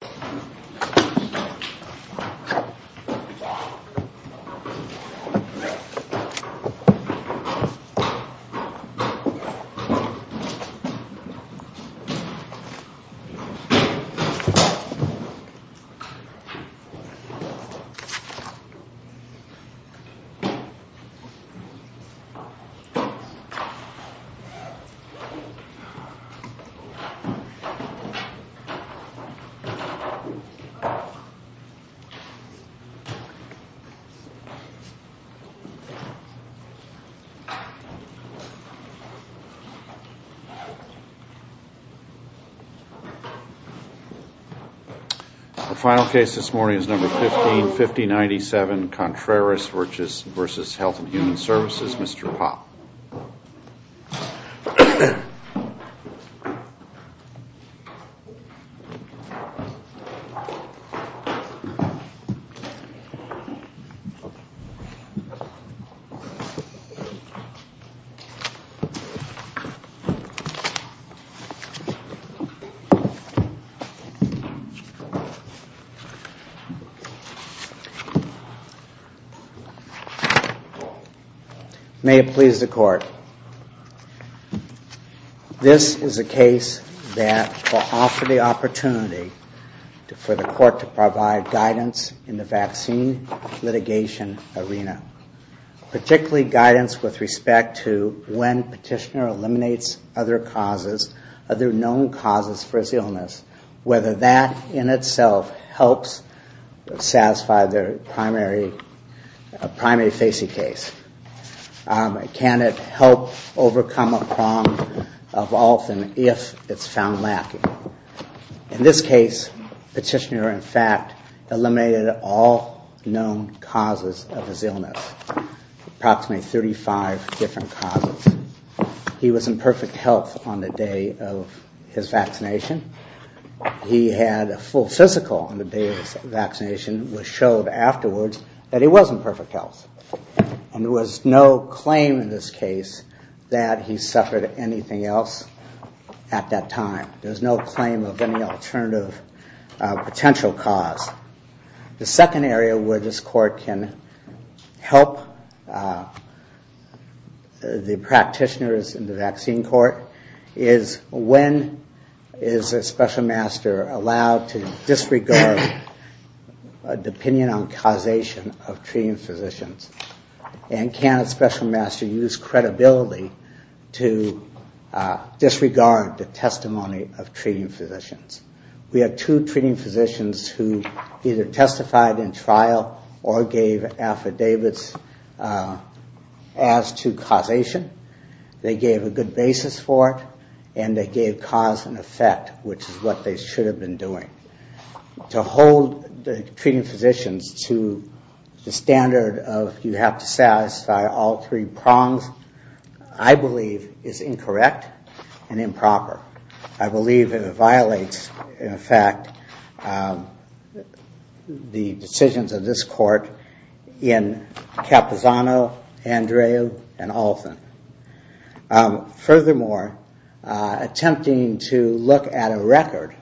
V. Health and Human Services, Mr. Poppe. May it please the Court, Mr. Poppe. This is a case that will offer the opportunity for the Court to provide guidance in the vaccine litigation arena, particularly guidance with respect to when petitioner eliminates other causes, other known causes for his illness, whether that in itself helps satisfy their primary facing case. Can it help overcome a problem of often if it's found lacking? In this case, petitioner, in fact, eliminated all known causes of his illness, approximately 35 different causes. He was in perfect health on the day of his vaccination. He had a full physical on the day of his vaccination, which showed afterwards that he was in perfect health. And there was no claim in this case that he suffered anything else at that time. There's no claim of any alternative potential cause. The second area where this court can help the practitioners in the vaccine court is when is a special master allowed to disregard a opinion on causation of treating physicians? And can a special master use credibility to disregard the testimony of treating physicians? We have two treating physicians who either testified in trial or gave affidavits as to causation. They gave a good basis for it, and they gave cause and effect, which is what they should have been doing. To hold the treating physicians to the standard of you have to satisfy all three prongs, I believe, is incorrect and improper. I believe it violates, in fact, the decisions of this court in Capozano, Andreu, and Olson. Furthermore, attempting to look at a record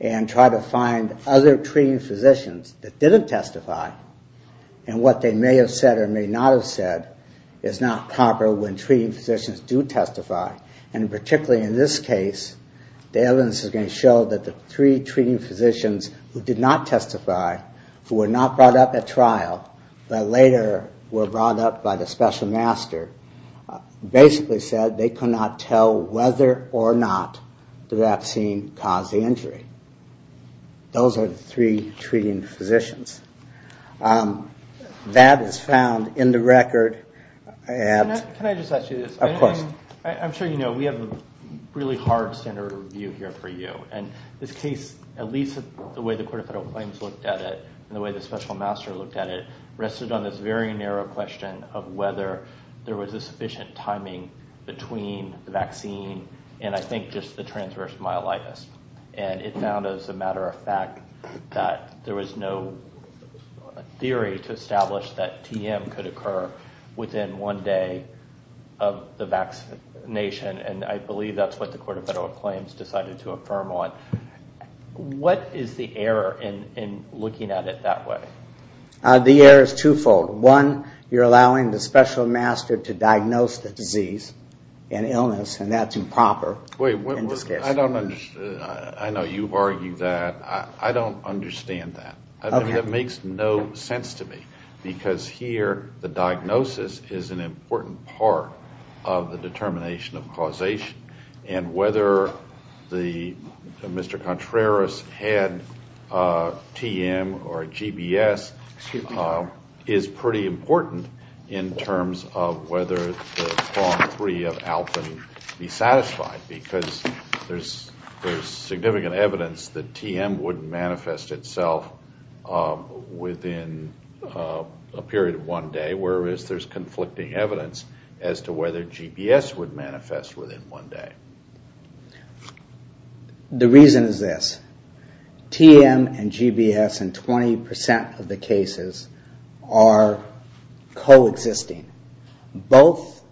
and try to find other treating physicians that didn't testify and what they may have said or may not have said is not proper when treating physicians do testify. And particularly in this case, the evidence is going to show that the three treating physicians who did not testify, who were not brought up at trial, but later were brought up by the special master, basically said they could not tell whether or not the vaccine caused the injury. Those are the three treating physicians. That is found in the record. Can I just ask you this? Of course. I'm sure you know we have a really hard standard of review here for you, and this case, at least the way the court of federal claims looked at it and the way the special master looked at it, rested on this very narrow question of whether there was a sufficient timing between the vaccine and, I think, just the transverse myelitis. And it found, as a matter of fact, that there was no theory to establish that TM could occur within one day of the vaccination, and I believe that's what the court of federal claims decided to affirm on. What is the error in looking at it that way? The error is twofold. One, you're allowing the special master to diagnose the disease and illness, and that's improper. I don't understand. I know you've argued that. I don't understand that. That makes no sense to me, because here the diagnosis is an important part of the determination of causation, and whether Mr. Contreras had TM or GBS is pretty important in terms of whether the form three of ALPIN be satisfied. I don't understand that, because there's significant evidence that TM would manifest itself within a period of one day, whereas there's conflicting evidence as to whether GBS would manifest within one day. The reason is this. TM and GBS in 20% of the cases are coexisting. Both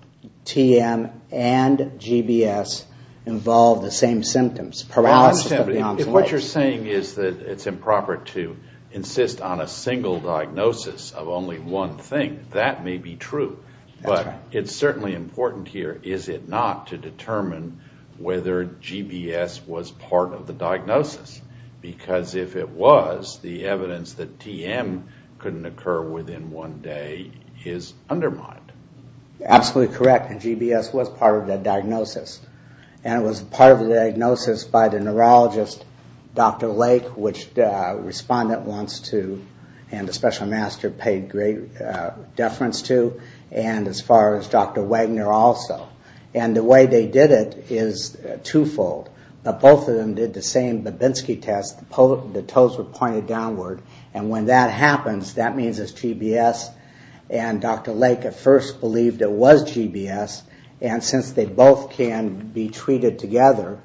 TM and GBS involve the same symptoms, paralysis of the onslaught. What you're saying is that it's improper to insist on a single diagnosis of only one thing. That may be true, but it's certainly important here, is it not, to determine whether GBS was part of the diagnosis, because if it was, the evidence that TM couldn't occur within one day is undermined. Absolutely correct, and GBS was part of the diagnosis, and it was part of the diagnosis by the neurologist, Dr. Lake, which the respondent wants to, and the special master paid great deference to, and as far as Dr. Wagner also. And the way they did it is twofold, but both of them did the same Babinski test, the toes were pointed downward, and when that happens, that means it's GBS and Dr. Lake. They first believed it was GBS, and since they both can be treated together,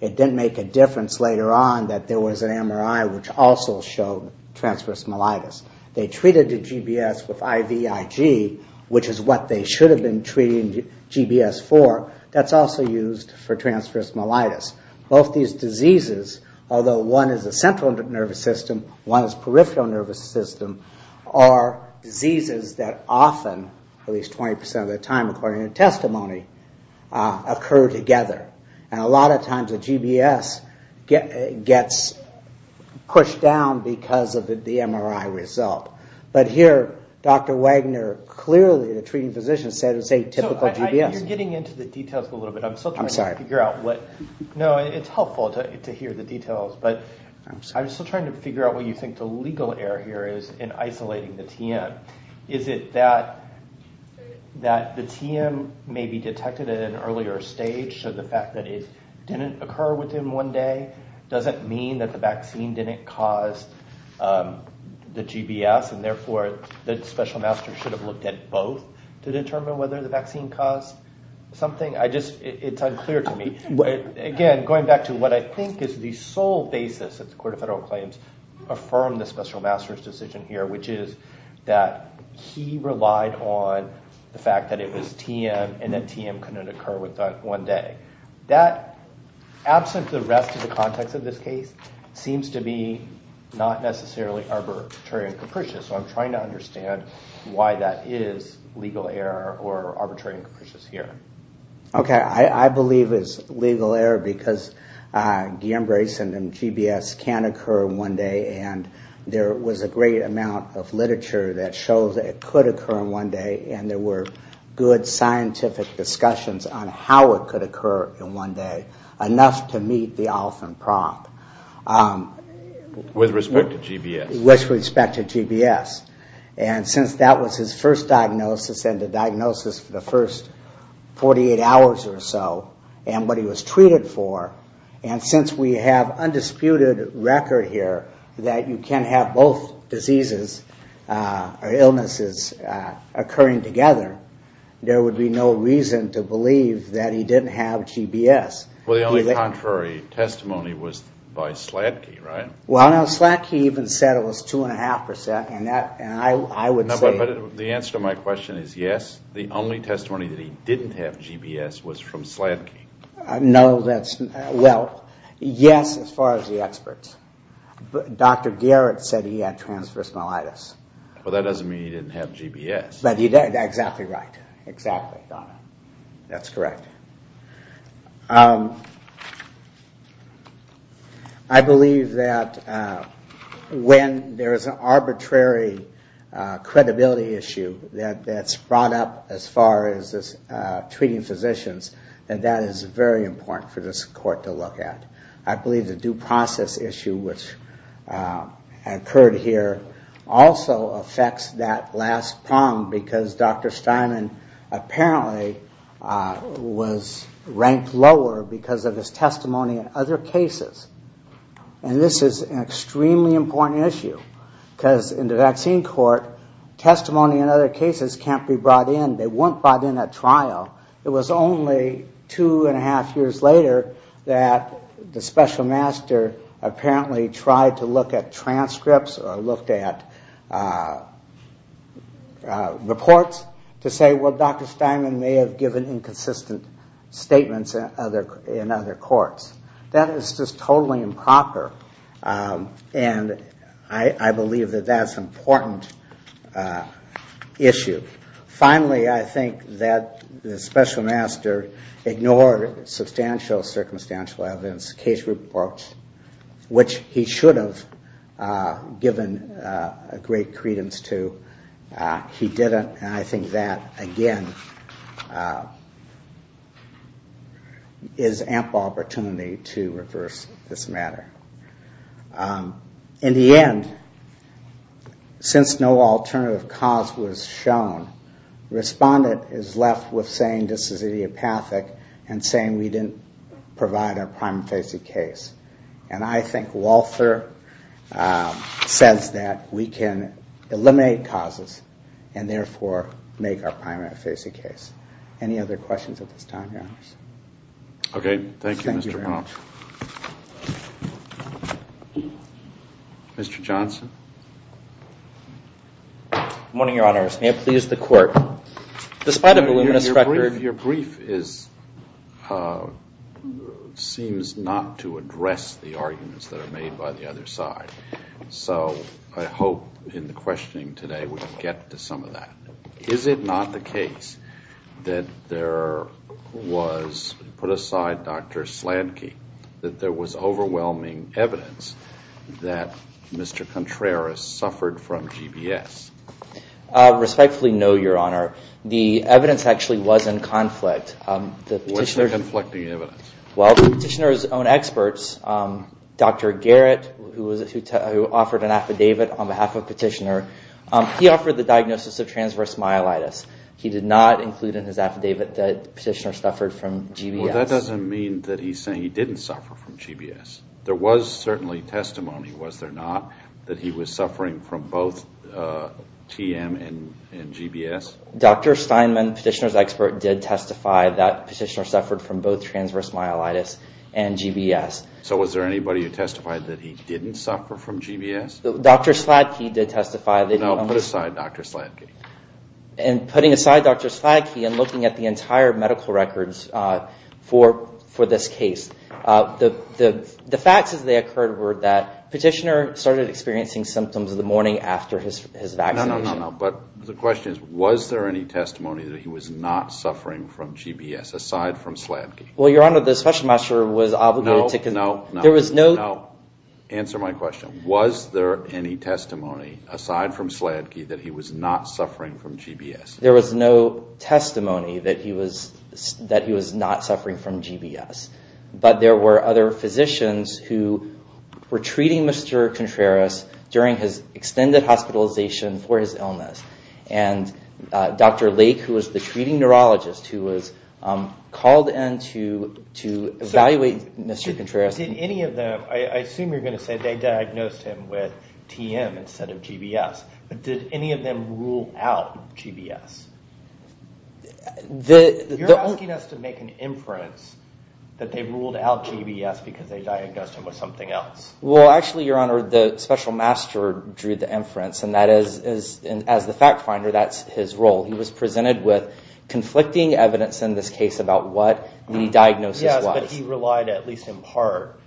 it didn't make a difference later on that there was an MRI which also showed transverse myelitis. They treated the GBS with IVIG, which is what they should have been treating GBS for, that's also used for transverse myelitis. Both these diseases, although one is a central nervous system, one is peripheral nervous system, are diseases that often are not treated together. At least 20% of the time, according to testimony, occur together, and a lot of times the GBS gets pushed down because of the MRI result. But here, Dr. Wagner clearly, the treating physician, said it's a typical GBS. You're getting into the details a little bit, I'm still trying to figure out what, no, it's helpful to hear the details, but I'm still trying to figure out what you think the legal error here is in isolating the TM. Is it that the TM may be detected at an earlier stage, so the fact that it didn't occur within one day doesn't mean that the vaccine didn't cause the GBS, and therefore the special master should have looked at both to determine whether the vaccine caused something? It's unclear to me. Again, going back to what I think is the sole basis that the court of federal claims affirmed the special master's decision here, which is that he relied on the fact that it was TM and that TM couldn't occur within one day. That, absent the rest of the context of this case, seems to be not necessarily arbitrary and capricious, so I'm trying to understand why that is legal error or arbitrary and capricious here. Okay, I believe it's legal error because Guillain-Barré syndrome, GBS, can occur in one day, and there was a great amount of literature that shows that it could occur in one day, and there were good scientific discussions on how it could occur in one day, enough to meet the often prompt. With respect to GBS. With respect to GBS, and since that was his first diagnosis and the diagnosis for the first 48 hours or so, and what he was treated for, and since we have undisputed record here that you can have both diseases or illnesses occurring together, there would be no reason to believe that he didn't have GBS. Well, the only contrary testimony was by Sladke, right? Well, no, Sladke even said it was 2.5%, and I would say... But the answer to my question is yes, the only testimony that he didn't have GBS was from Sladke. No, that's... well, yes, as far as the experts. Dr. Garrett said he had transversal myelitis. Well, that doesn't mean he didn't have GBS. But you're exactly right, exactly, Donna, that's correct. I believe that when there is an arbitrary credibility issue that's brought up as far as treating physicians, and that is very important for this court to look at. I believe the due process issue which occurred here also affects that last prong, because Dr. Steinman apparently was ranked lower because of his testimony in other cases. And this is an extremely important issue, because in the vaccine court, testimony in other cases can't be brought in. They weren't brought in at trial. It was only two and a half years later that the special master apparently tried to look at transcripts or looked at reports to say, well, Dr. Steinman may have given inconsistent statements in other courts. That is just totally improper, and I believe that that's an important issue. Finally, I think that the special master ignored substantial circumstantial evidence, case reports, which he should have given great credence to. He didn't, and I think that, again, is ample opportunity to reverse this matter. In the end, since no alternative cause was shown, the respondent is left with saying this is idiopathic and saying we didn't provide a prima facie case. And I think Walther says that we can eliminate causes and therefore make our prima facie case. Any other questions at this time, Your Honors? Mr. Johnson? Good morning, Your Honors. May it please the Court, despite a voluminous record... Your brief seems not to address the arguments that are made by the other side. So I hope in the questioning today we can get to some of that. Is it not the case that there was, put aside Dr. Slanky, that there was overwhelming evidence that Mr. Contreras suffered from GBS? Respectfully, no, Your Honor. The evidence actually was in conflict. What's the conflicting evidence? Well, Petitioner's own experts, Dr. Garrett, who offered an affidavit on behalf of Petitioner, he offered the diagnosis of transverse myelitis. He did not include in his affidavit that Petitioner suffered from GBS. Well, that doesn't mean that he's saying he didn't suffer from GBS. There was certainly testimony, was there not, that he was suffering from both TM and GBS? Dr. Steinman, Petitioner's expert, did testify that Petitioner suffered from both TM and GBS. So was there anybody who testified that he didn't suffer from GBS? No, put aside Dr. Slanky. And putting aside Dr. Slanky and looking at the entire medical records for this case, the facts as they occurred were that Petitioner started experiencing symptoms the morning after his vaccination. No, but the question is, was there any testimony that he was not suffering from GBS, aside from Slanky? Well, Your Honor, the Special Master was obligated to... No, answer my question. Was there any testimony, aside from Slanky, that he was not suffering from GBS? There was no testimony that he was not suffering from GBS. But there were other physicians who were treating Mr. Contreras during his extended hospitalization for his illness. And Dr. Lake, who was the treating neurologist, who was called in to evaluate Mr. Contreras... Did any of them, I assume you're going to say they diagnosed him with TM instead of GBS, but did any of them rule out GBS? You're asking us to make an inference that they ruled out GBS because they diagnosed him with something else. Well, actually, Your Honor, the Special Master drew the inference, and as the fact finder, that's his role. He was presented with conflicting evidence in this case about what the diagnosis was. Yes, but he relied at least in part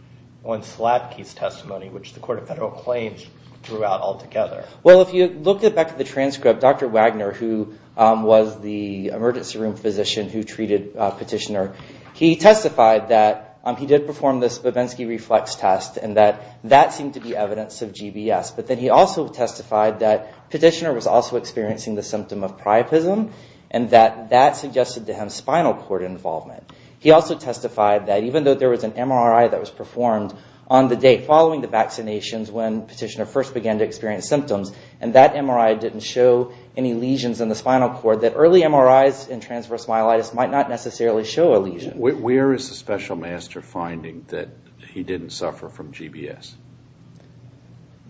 on Slanky's testimony, which the Court of Federal Claims drew out altogether. Well, if you look back at the transcript, Dr. Wagner, who was the emergency room physician who treated Petitioner, he testified that he did perform this Babensky reflex test, and that that seemed to be evidence of GBS. But then he also testified that Petitioner was also experiencing the symptom of priapism, and that that suggested to him spinal cord involvement. He also testified that even though there was an MRI that was performed on the day following the vaccinations, when Petitioner first began to experience symptoms, and that MRI didn't show any lesions in the spinal cord, that early MRIs in transverse myelitis might not necessarily show a lesion. Where is the Special Master finding that he didn't suffer from GBS?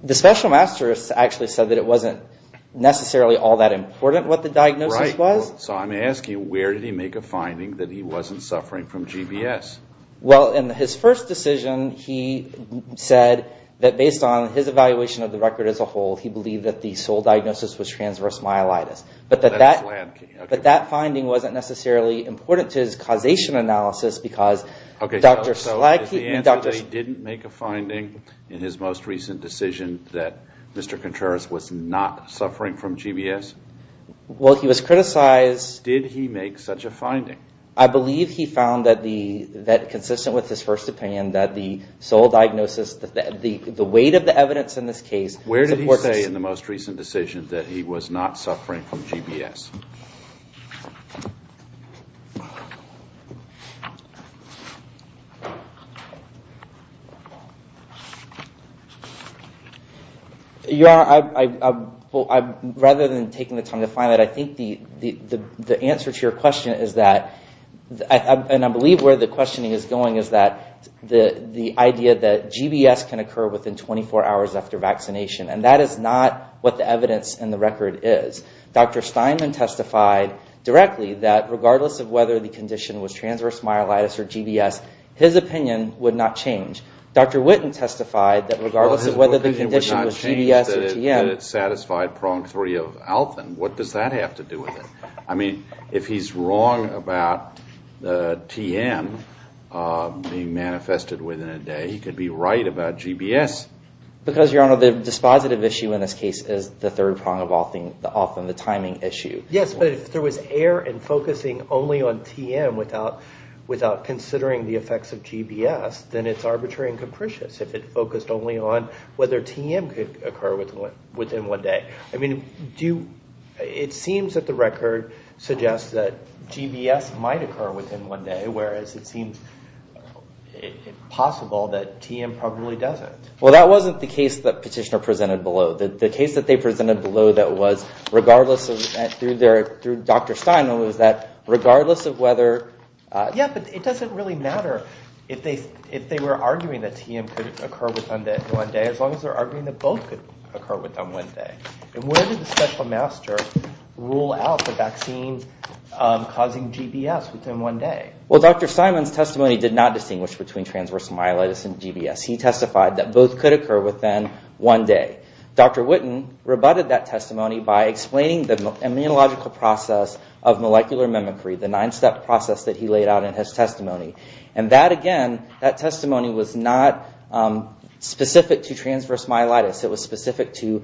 The Special Master actually said that it wasn't necessarily all that important what the diagnosis was. Right. So I'm asking, where did he make a finding that he wasn't suffering from GBS? Well, in his first decision, he said that based on his evaluation of the record as a whole, he believed that the sole diagnosis was transverse myelitis. But that finding wasn't necessarily important to his causation analysis, because Dr. Slag... So is the answer that he didn't make a finding in his most recent decision that Mr. Contreras was not suffering from GBS? Well, he was criticized... Did he make such a finding? I believe he found that consistent with his first opinion, that the sole diagnosis, the weight of the evidence in this case... Where did he say in the most recent decision that he was not suffering from GBS? Yes. Your Honor, rather than taking the time to find that, I think the answer to your question is that... And I believe where the questioning is going is that the idea that GBS can occur within 24 hours after vaccination. And that is not what the evidence in the record is. Dr. Steinman testified directly that regardless of whether the condition was transverse myelitis or GBS, his opinion would not change. Dr. Witten testified that regardless of whether the condition was GBS or TM... Well, his opinion would not change that it satisfied prong three of Alvin. What does that have to do with it? I mean, if he's wrong about TM being manifested within a day, he could be right about GBS. Because, Your Honor, the dispositive issue in this case is the third prong of Alvin, the timing issue. Yes, but if there was error in focusing only on TM without considering the effects of GBS, then it's arbitrary and capricious if it focused only on whether TM could occur within one day. I mean, it seems that the record suggests that GBS might occur within one day, whereas it seems possible that TM probably doesn't. Well, that wasn't the case that Petitioner presented below. The case that they presented below that was, regardless of, through Dr. Steinman, was that regardless of whether... Yeah, but it doesn't really matter if they were arguing that TM could occur within one day, as long as they're arguing that both could occur within one day. And where did the special master rule out the vaccines causing GBS within one day? Well, Dr. Steinman's testimony did not distinguish between transverse myelitis and GBS. He testified that both could occur within one day. Dr. Witten rebutted that testimony by explaining the immunological process of molecular mimicry, the nine-step process that he laid out in his testimony. And that, again, that testimony was not specific to transverse myelitis. It was specific to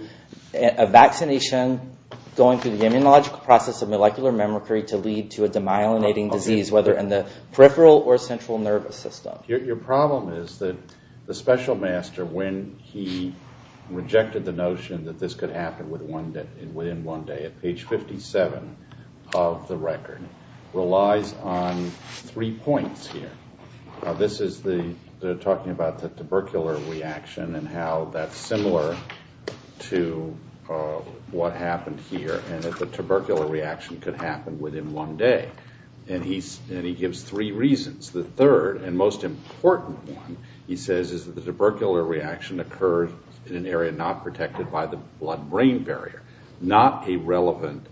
a vaccination going through the immunological process of molecular mimicry to lead to a demyelinating disease, whether in the peripheral or central nervous system. Your problem is that the special master, when he rejected the notion that this could happen within one day, at page 57 of the record, relies on three points here. This is the, they're talking about the tubercular reaction and how that's similar to what happened here, and that the tubercular reaction could happen within one day. And he gives three reasons. The third and most important one, he says, is that the tubercular reaction occurs in an area not protected by the blood-brain barrier. Not a relevant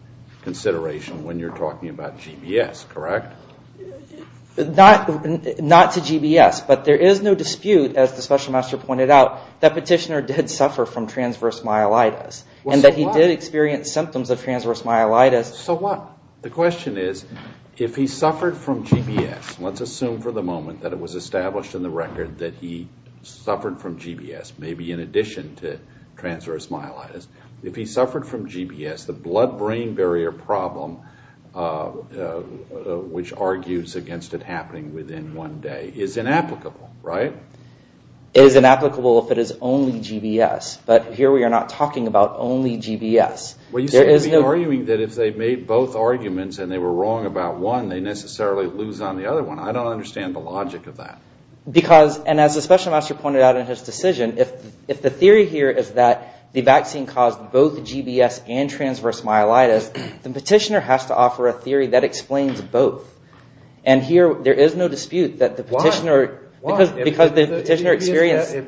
consideration when you're talking about GBS, correct? Not to GBS, but there is no dispute, as the special master pointed out, that Petitioner did suffer from transverse myelitis. And that he did experience symptoms of transverse myelitis. So what? The question is, if he suffered from GBS, let's assume for the moment that it was established in the record that he suffered from GBS, maybe in addition to transverse myelitis. If he suffered from GBS, the blood-brain barrier problem, which argues against it happening within one day, is inapplicable, right? It is inapplicable if it is only GBS. But here we are not talking about only GBS. Well, you seem to be arguing that if they made both arguments and they were wrong about one, they necessarily lose on the other one. I don't understand the logic of that. Because, and as the special master pointed out in his decision, if the theory here is that the vaccine caused both GBS and transverse myelitis, the petitioner has to offer a theory that explains both. And here there is no dispute that the petitioner, because the petitioner experienced... Well,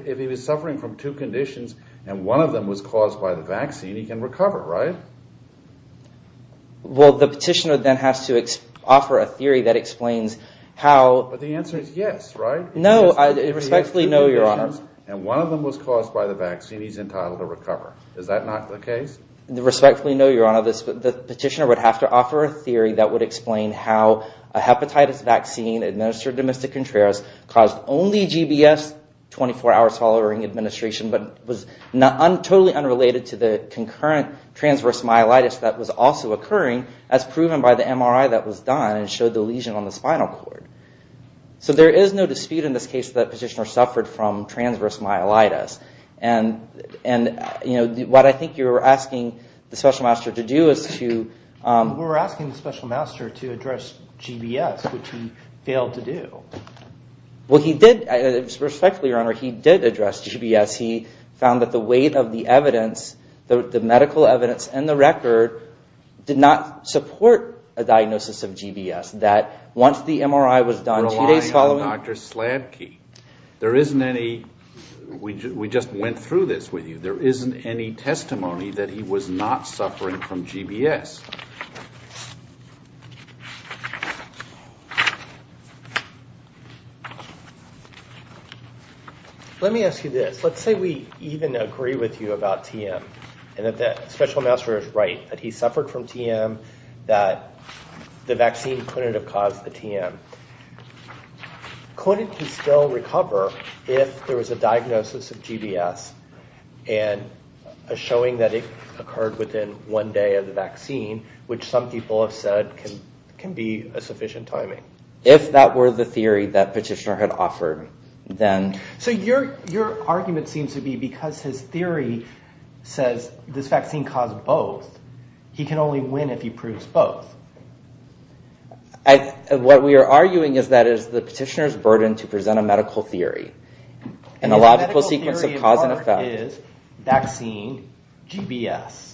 the petitioner then has to offer a theory that explains how... But the answer is yes, right? No, respectfully no, Your Honor. And one of them was caused by the vaccine. He is entitled to recover. Is that not the case? Respectfully no, Your Honor. The petitioner would have to offer a theory that would explain how a hepatitis vaccine administered to Mr. Contreras caused only GBS, 24 hours following administration, but was totally unrelated to the concurrent transverse myelitis that was also occurring as proven by the MRI that was done and showed the lesion on the spinal cord. So there is no dispute in this case that the petitioner suffered from transverse myelitis. And what I think you are asking the special master to do is to... We are asking the special master to address GBS, which he failed to do. Well, he did. Respectfully, Your Honor, he did address GBS. He found that the weight of the evidence, the medical evidence and the record, did not support a diagnosis of GBS. That once the MRI was done two days following... We are relying on Dr. Slabke. There isn't any... We just went through this with you. There isn't any testimony that he was not suffering from GBS. Let me ask you this. Let's say we even agree with you about TM and that the special master is right, that he suffered from TM, that the vaccine couldn't have caused the TM. Couldn't he still recover if there was a diagnosis of GBS and a showing that it occurred within one day of the vaccine, which some people have said can be a sufficient timing? If that were the theory that Petitioner had offered, then... So your argument seems to be because his theory says this vaccine caused both, he can only win if he proves both. What we are arguing is that it is the Petitioner's burden to present a medical theory and a logical sequence of cause and effect. His medical theory at heart is vaccine, GBS.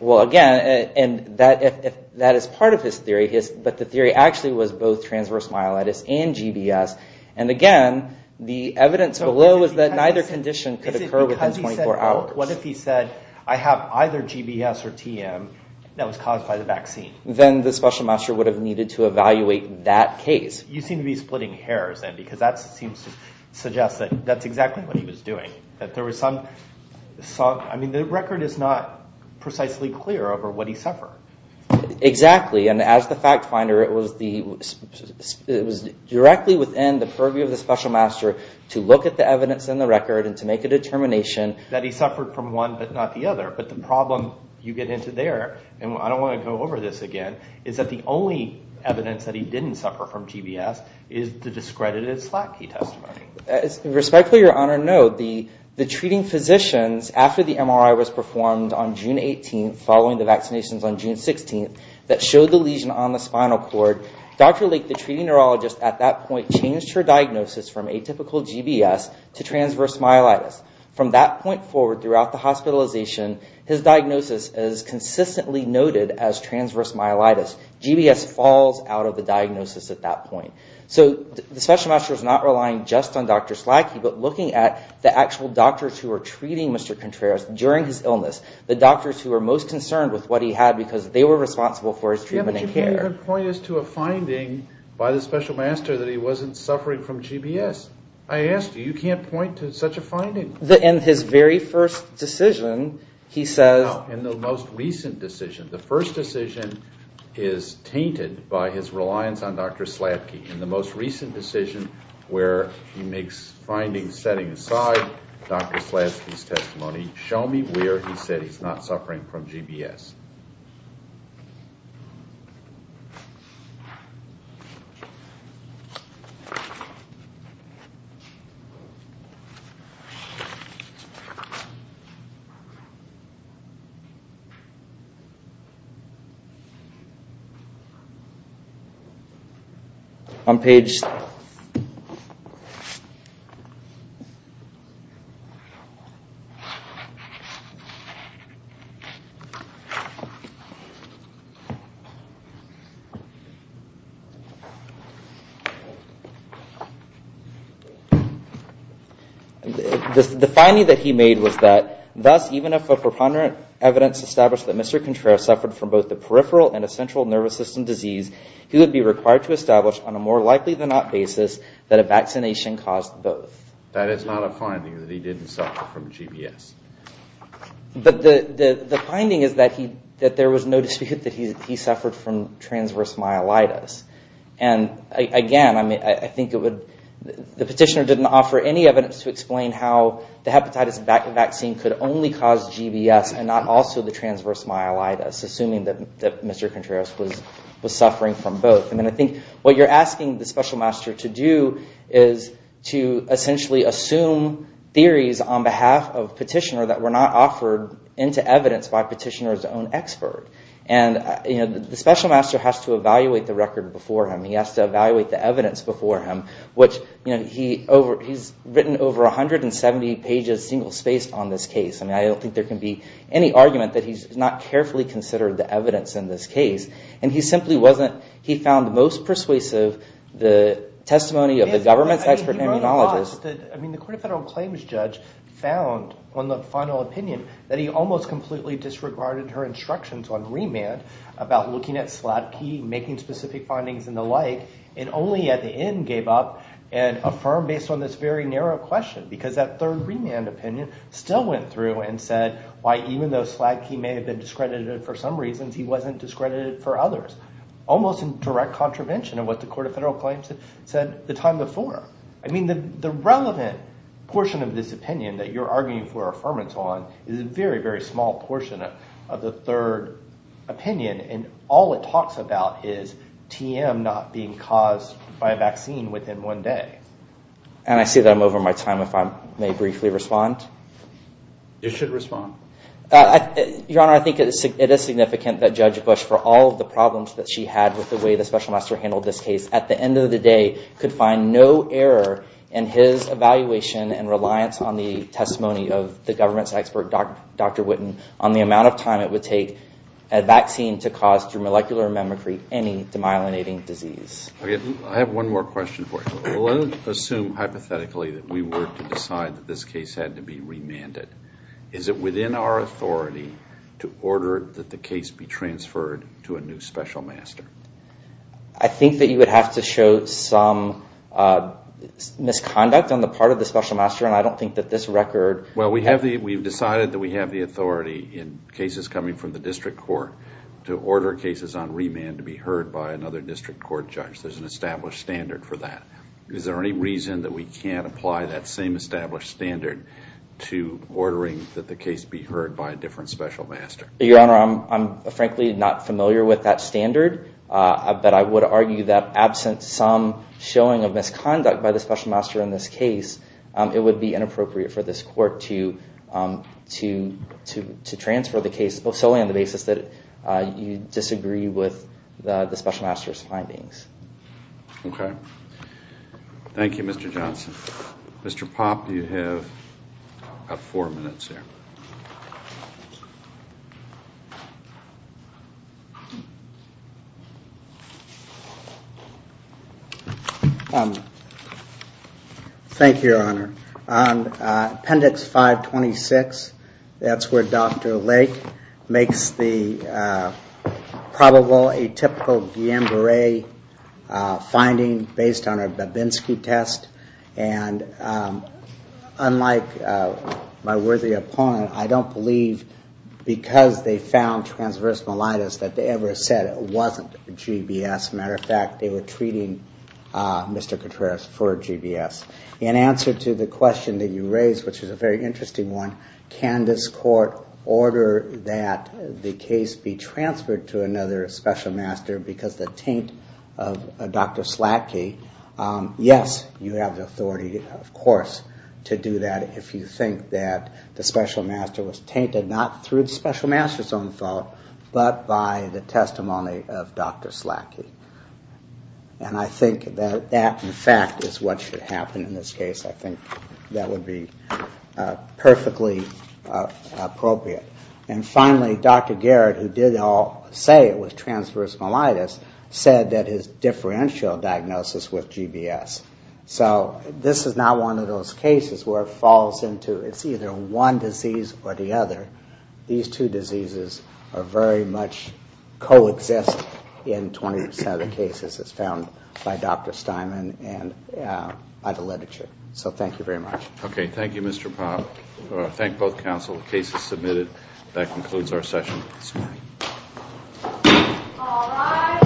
Well, again, that is part of his theory, but the theory actually was both transverse myelitis and GBS. And again, the evidence below is that neither condition could occur within 24 hours. What if he said, I have either GBS or TM that was caused by the vaccine? Then the special master would have needed to evaluate that case. You seem to be splitting hairs then, because that seems to suggest that that's exactly what he was doing. I mean, the record is not precisely clear over what he suffered. Exactly, and as the fact finder, it was directly within the purview of the special master to look at the evidence in the record and to make a determination... That he suffered from one but not the other. But the problem you get into there, and I don't want to go over this again, is that the only evidence that he didn't suffer from GBS is the discredited SLACI testimony. Respectfully, Your Honor, no. The treating physicians, after the MRI was performed on June 18th, following the vaccinations on June 16th, that showed the lesion on the spinal cord, Dr. Lake, the treating neurologist at that point, changed her diagnosis from atypical GBS to transverse myelitis. From that point forward, throughout the hospitalization, his diagnosis is consistently noted as transverse myelitis. GBS falls out of the diagnosis at that point. So the special master is not relying just on Dr. SLACI, but looking at the actual doctors who were treating Mr. Contreras during his illness, the doctors who were most concerned with what he had because they were responsible for his treatment and care. But you can't point us to a finding by the special master that he wasn't suffering from GBS. I asked you, you can't point to such a finding. In his very first decision, he says... In the most recent decision where he makes findings setting aside Dr. SLACI's testimony, show me where he said he's not suffering from GBS. On page... The finding that he made was that... That a vaccination caused both. That is not a finding that he didn't suffer from GBS. But the finding is that there was no dispute that he suffered from transverse myelitis. And again, I think it would... The petitioner didn't offer any evidence to explain how the hepatitis vaccine could only cause GBS and not also the transverse myelitis, assuming that Mr. Contreras was suffering from both. And I think what you're asking the special master to do is to essentially assume theories on behalf of petitioner that were not offered into evidence by petitioner's own expert. And the special master has to evaluate the record before him. He has to evaluate the evidence before him. He's written over 170 pages single spaced on this case. I don't think there can be any argument that he's not carefully considered the evidence in this case. And he simply wasn't... He found the most persuasive the testimony of the government's expert immunologist. I mean the court of federal claims judge found on the final opinion that he almost completely disregarded her instructions on remand about looking at Sladky, making specific findings and the like. And only at the end gave up and affirmed based on this very narrow question. Because that third remand opinion still went through and said why even though Sladky may have been discredited for some reasons, he wasn't discredited for others. Almost in direct contravention of what the court of federal claims said the time before. I mean the relevant portion of this opinion that you're arguing for affirmance on is a very, very small portion of the third opinion. And all it talks about is TM not being caused by a vaccine within one day. And I see that I'm over my time if I may briefly respond. You should respond. Your Honor, I think it is significant that Judge Bush for all of the problems that she had with the way the special master handled this case at the end of the day could find no error in his evaluation and reliance on the testimony of the government's expert Dr. Witten on the amount of time it would take a vaccine to cause through molecular mimicry any demyelinating disease. I have one more question for you. Let's assume hypothetically that we were to decide that this case had to be remanded. Is it within our authority to order that the case be transferred to a new special master? I think that you would have to show some misconduct on the part of the special master and I don't think that this record... Well, we've decided that we have the authority in cases coming from the district court to order cases on remand to be heard by another district court judge. There's an established standard for that. Is there any reason that we can't apply that same established standard to ordering that the case be heard by a different special master? Your Honor, I'm frankly not familiar with that standard. But I would argue that absent some showing of misconduct by the special master in this case, it would be inappropriate for this court to transfer the case solely on the basis that you disagree with the special master's findings. Okay. Thank you, Mr. Johnson. Mr. Popp, you have about four minutes here. On Appendix 526, that's where Dr. Lake makes the probable atypical Guillain-Barre finding based on a Babinski test. And unlike my worthy opponent, I don't believe because they found transverse myelitis that they ever said it wasn't GBS. As a matter of fact, they were treating Mr. Cotreras for GBS. In answer to the question that you raised, which is a very interesting one, can this court order that the case be transferred to another special master because of the taint of Dr. Slatke? Yes, you have the authority, of course, to do that if you think that the special master was tainted, not through the special master's own fault, but by the testimony of Dr. Slatke. And I think that that, in fact, is what should happen in this case. I think that would be perfectly appropriate. And finally, Dr. Garrett, who did say it was transverse myelitis, said that his differential diagnosis was GBS. So this is not one of those cases where it falls into it's either one disease or the other. These two diseases are very much co-existent in 27 cases as found by Dr. Steinman and by the literature. So thank you very much. Okay, thank you, Mr. Popp. Thank both counsel. The case is submitted. That concludes our session this morning. All rise.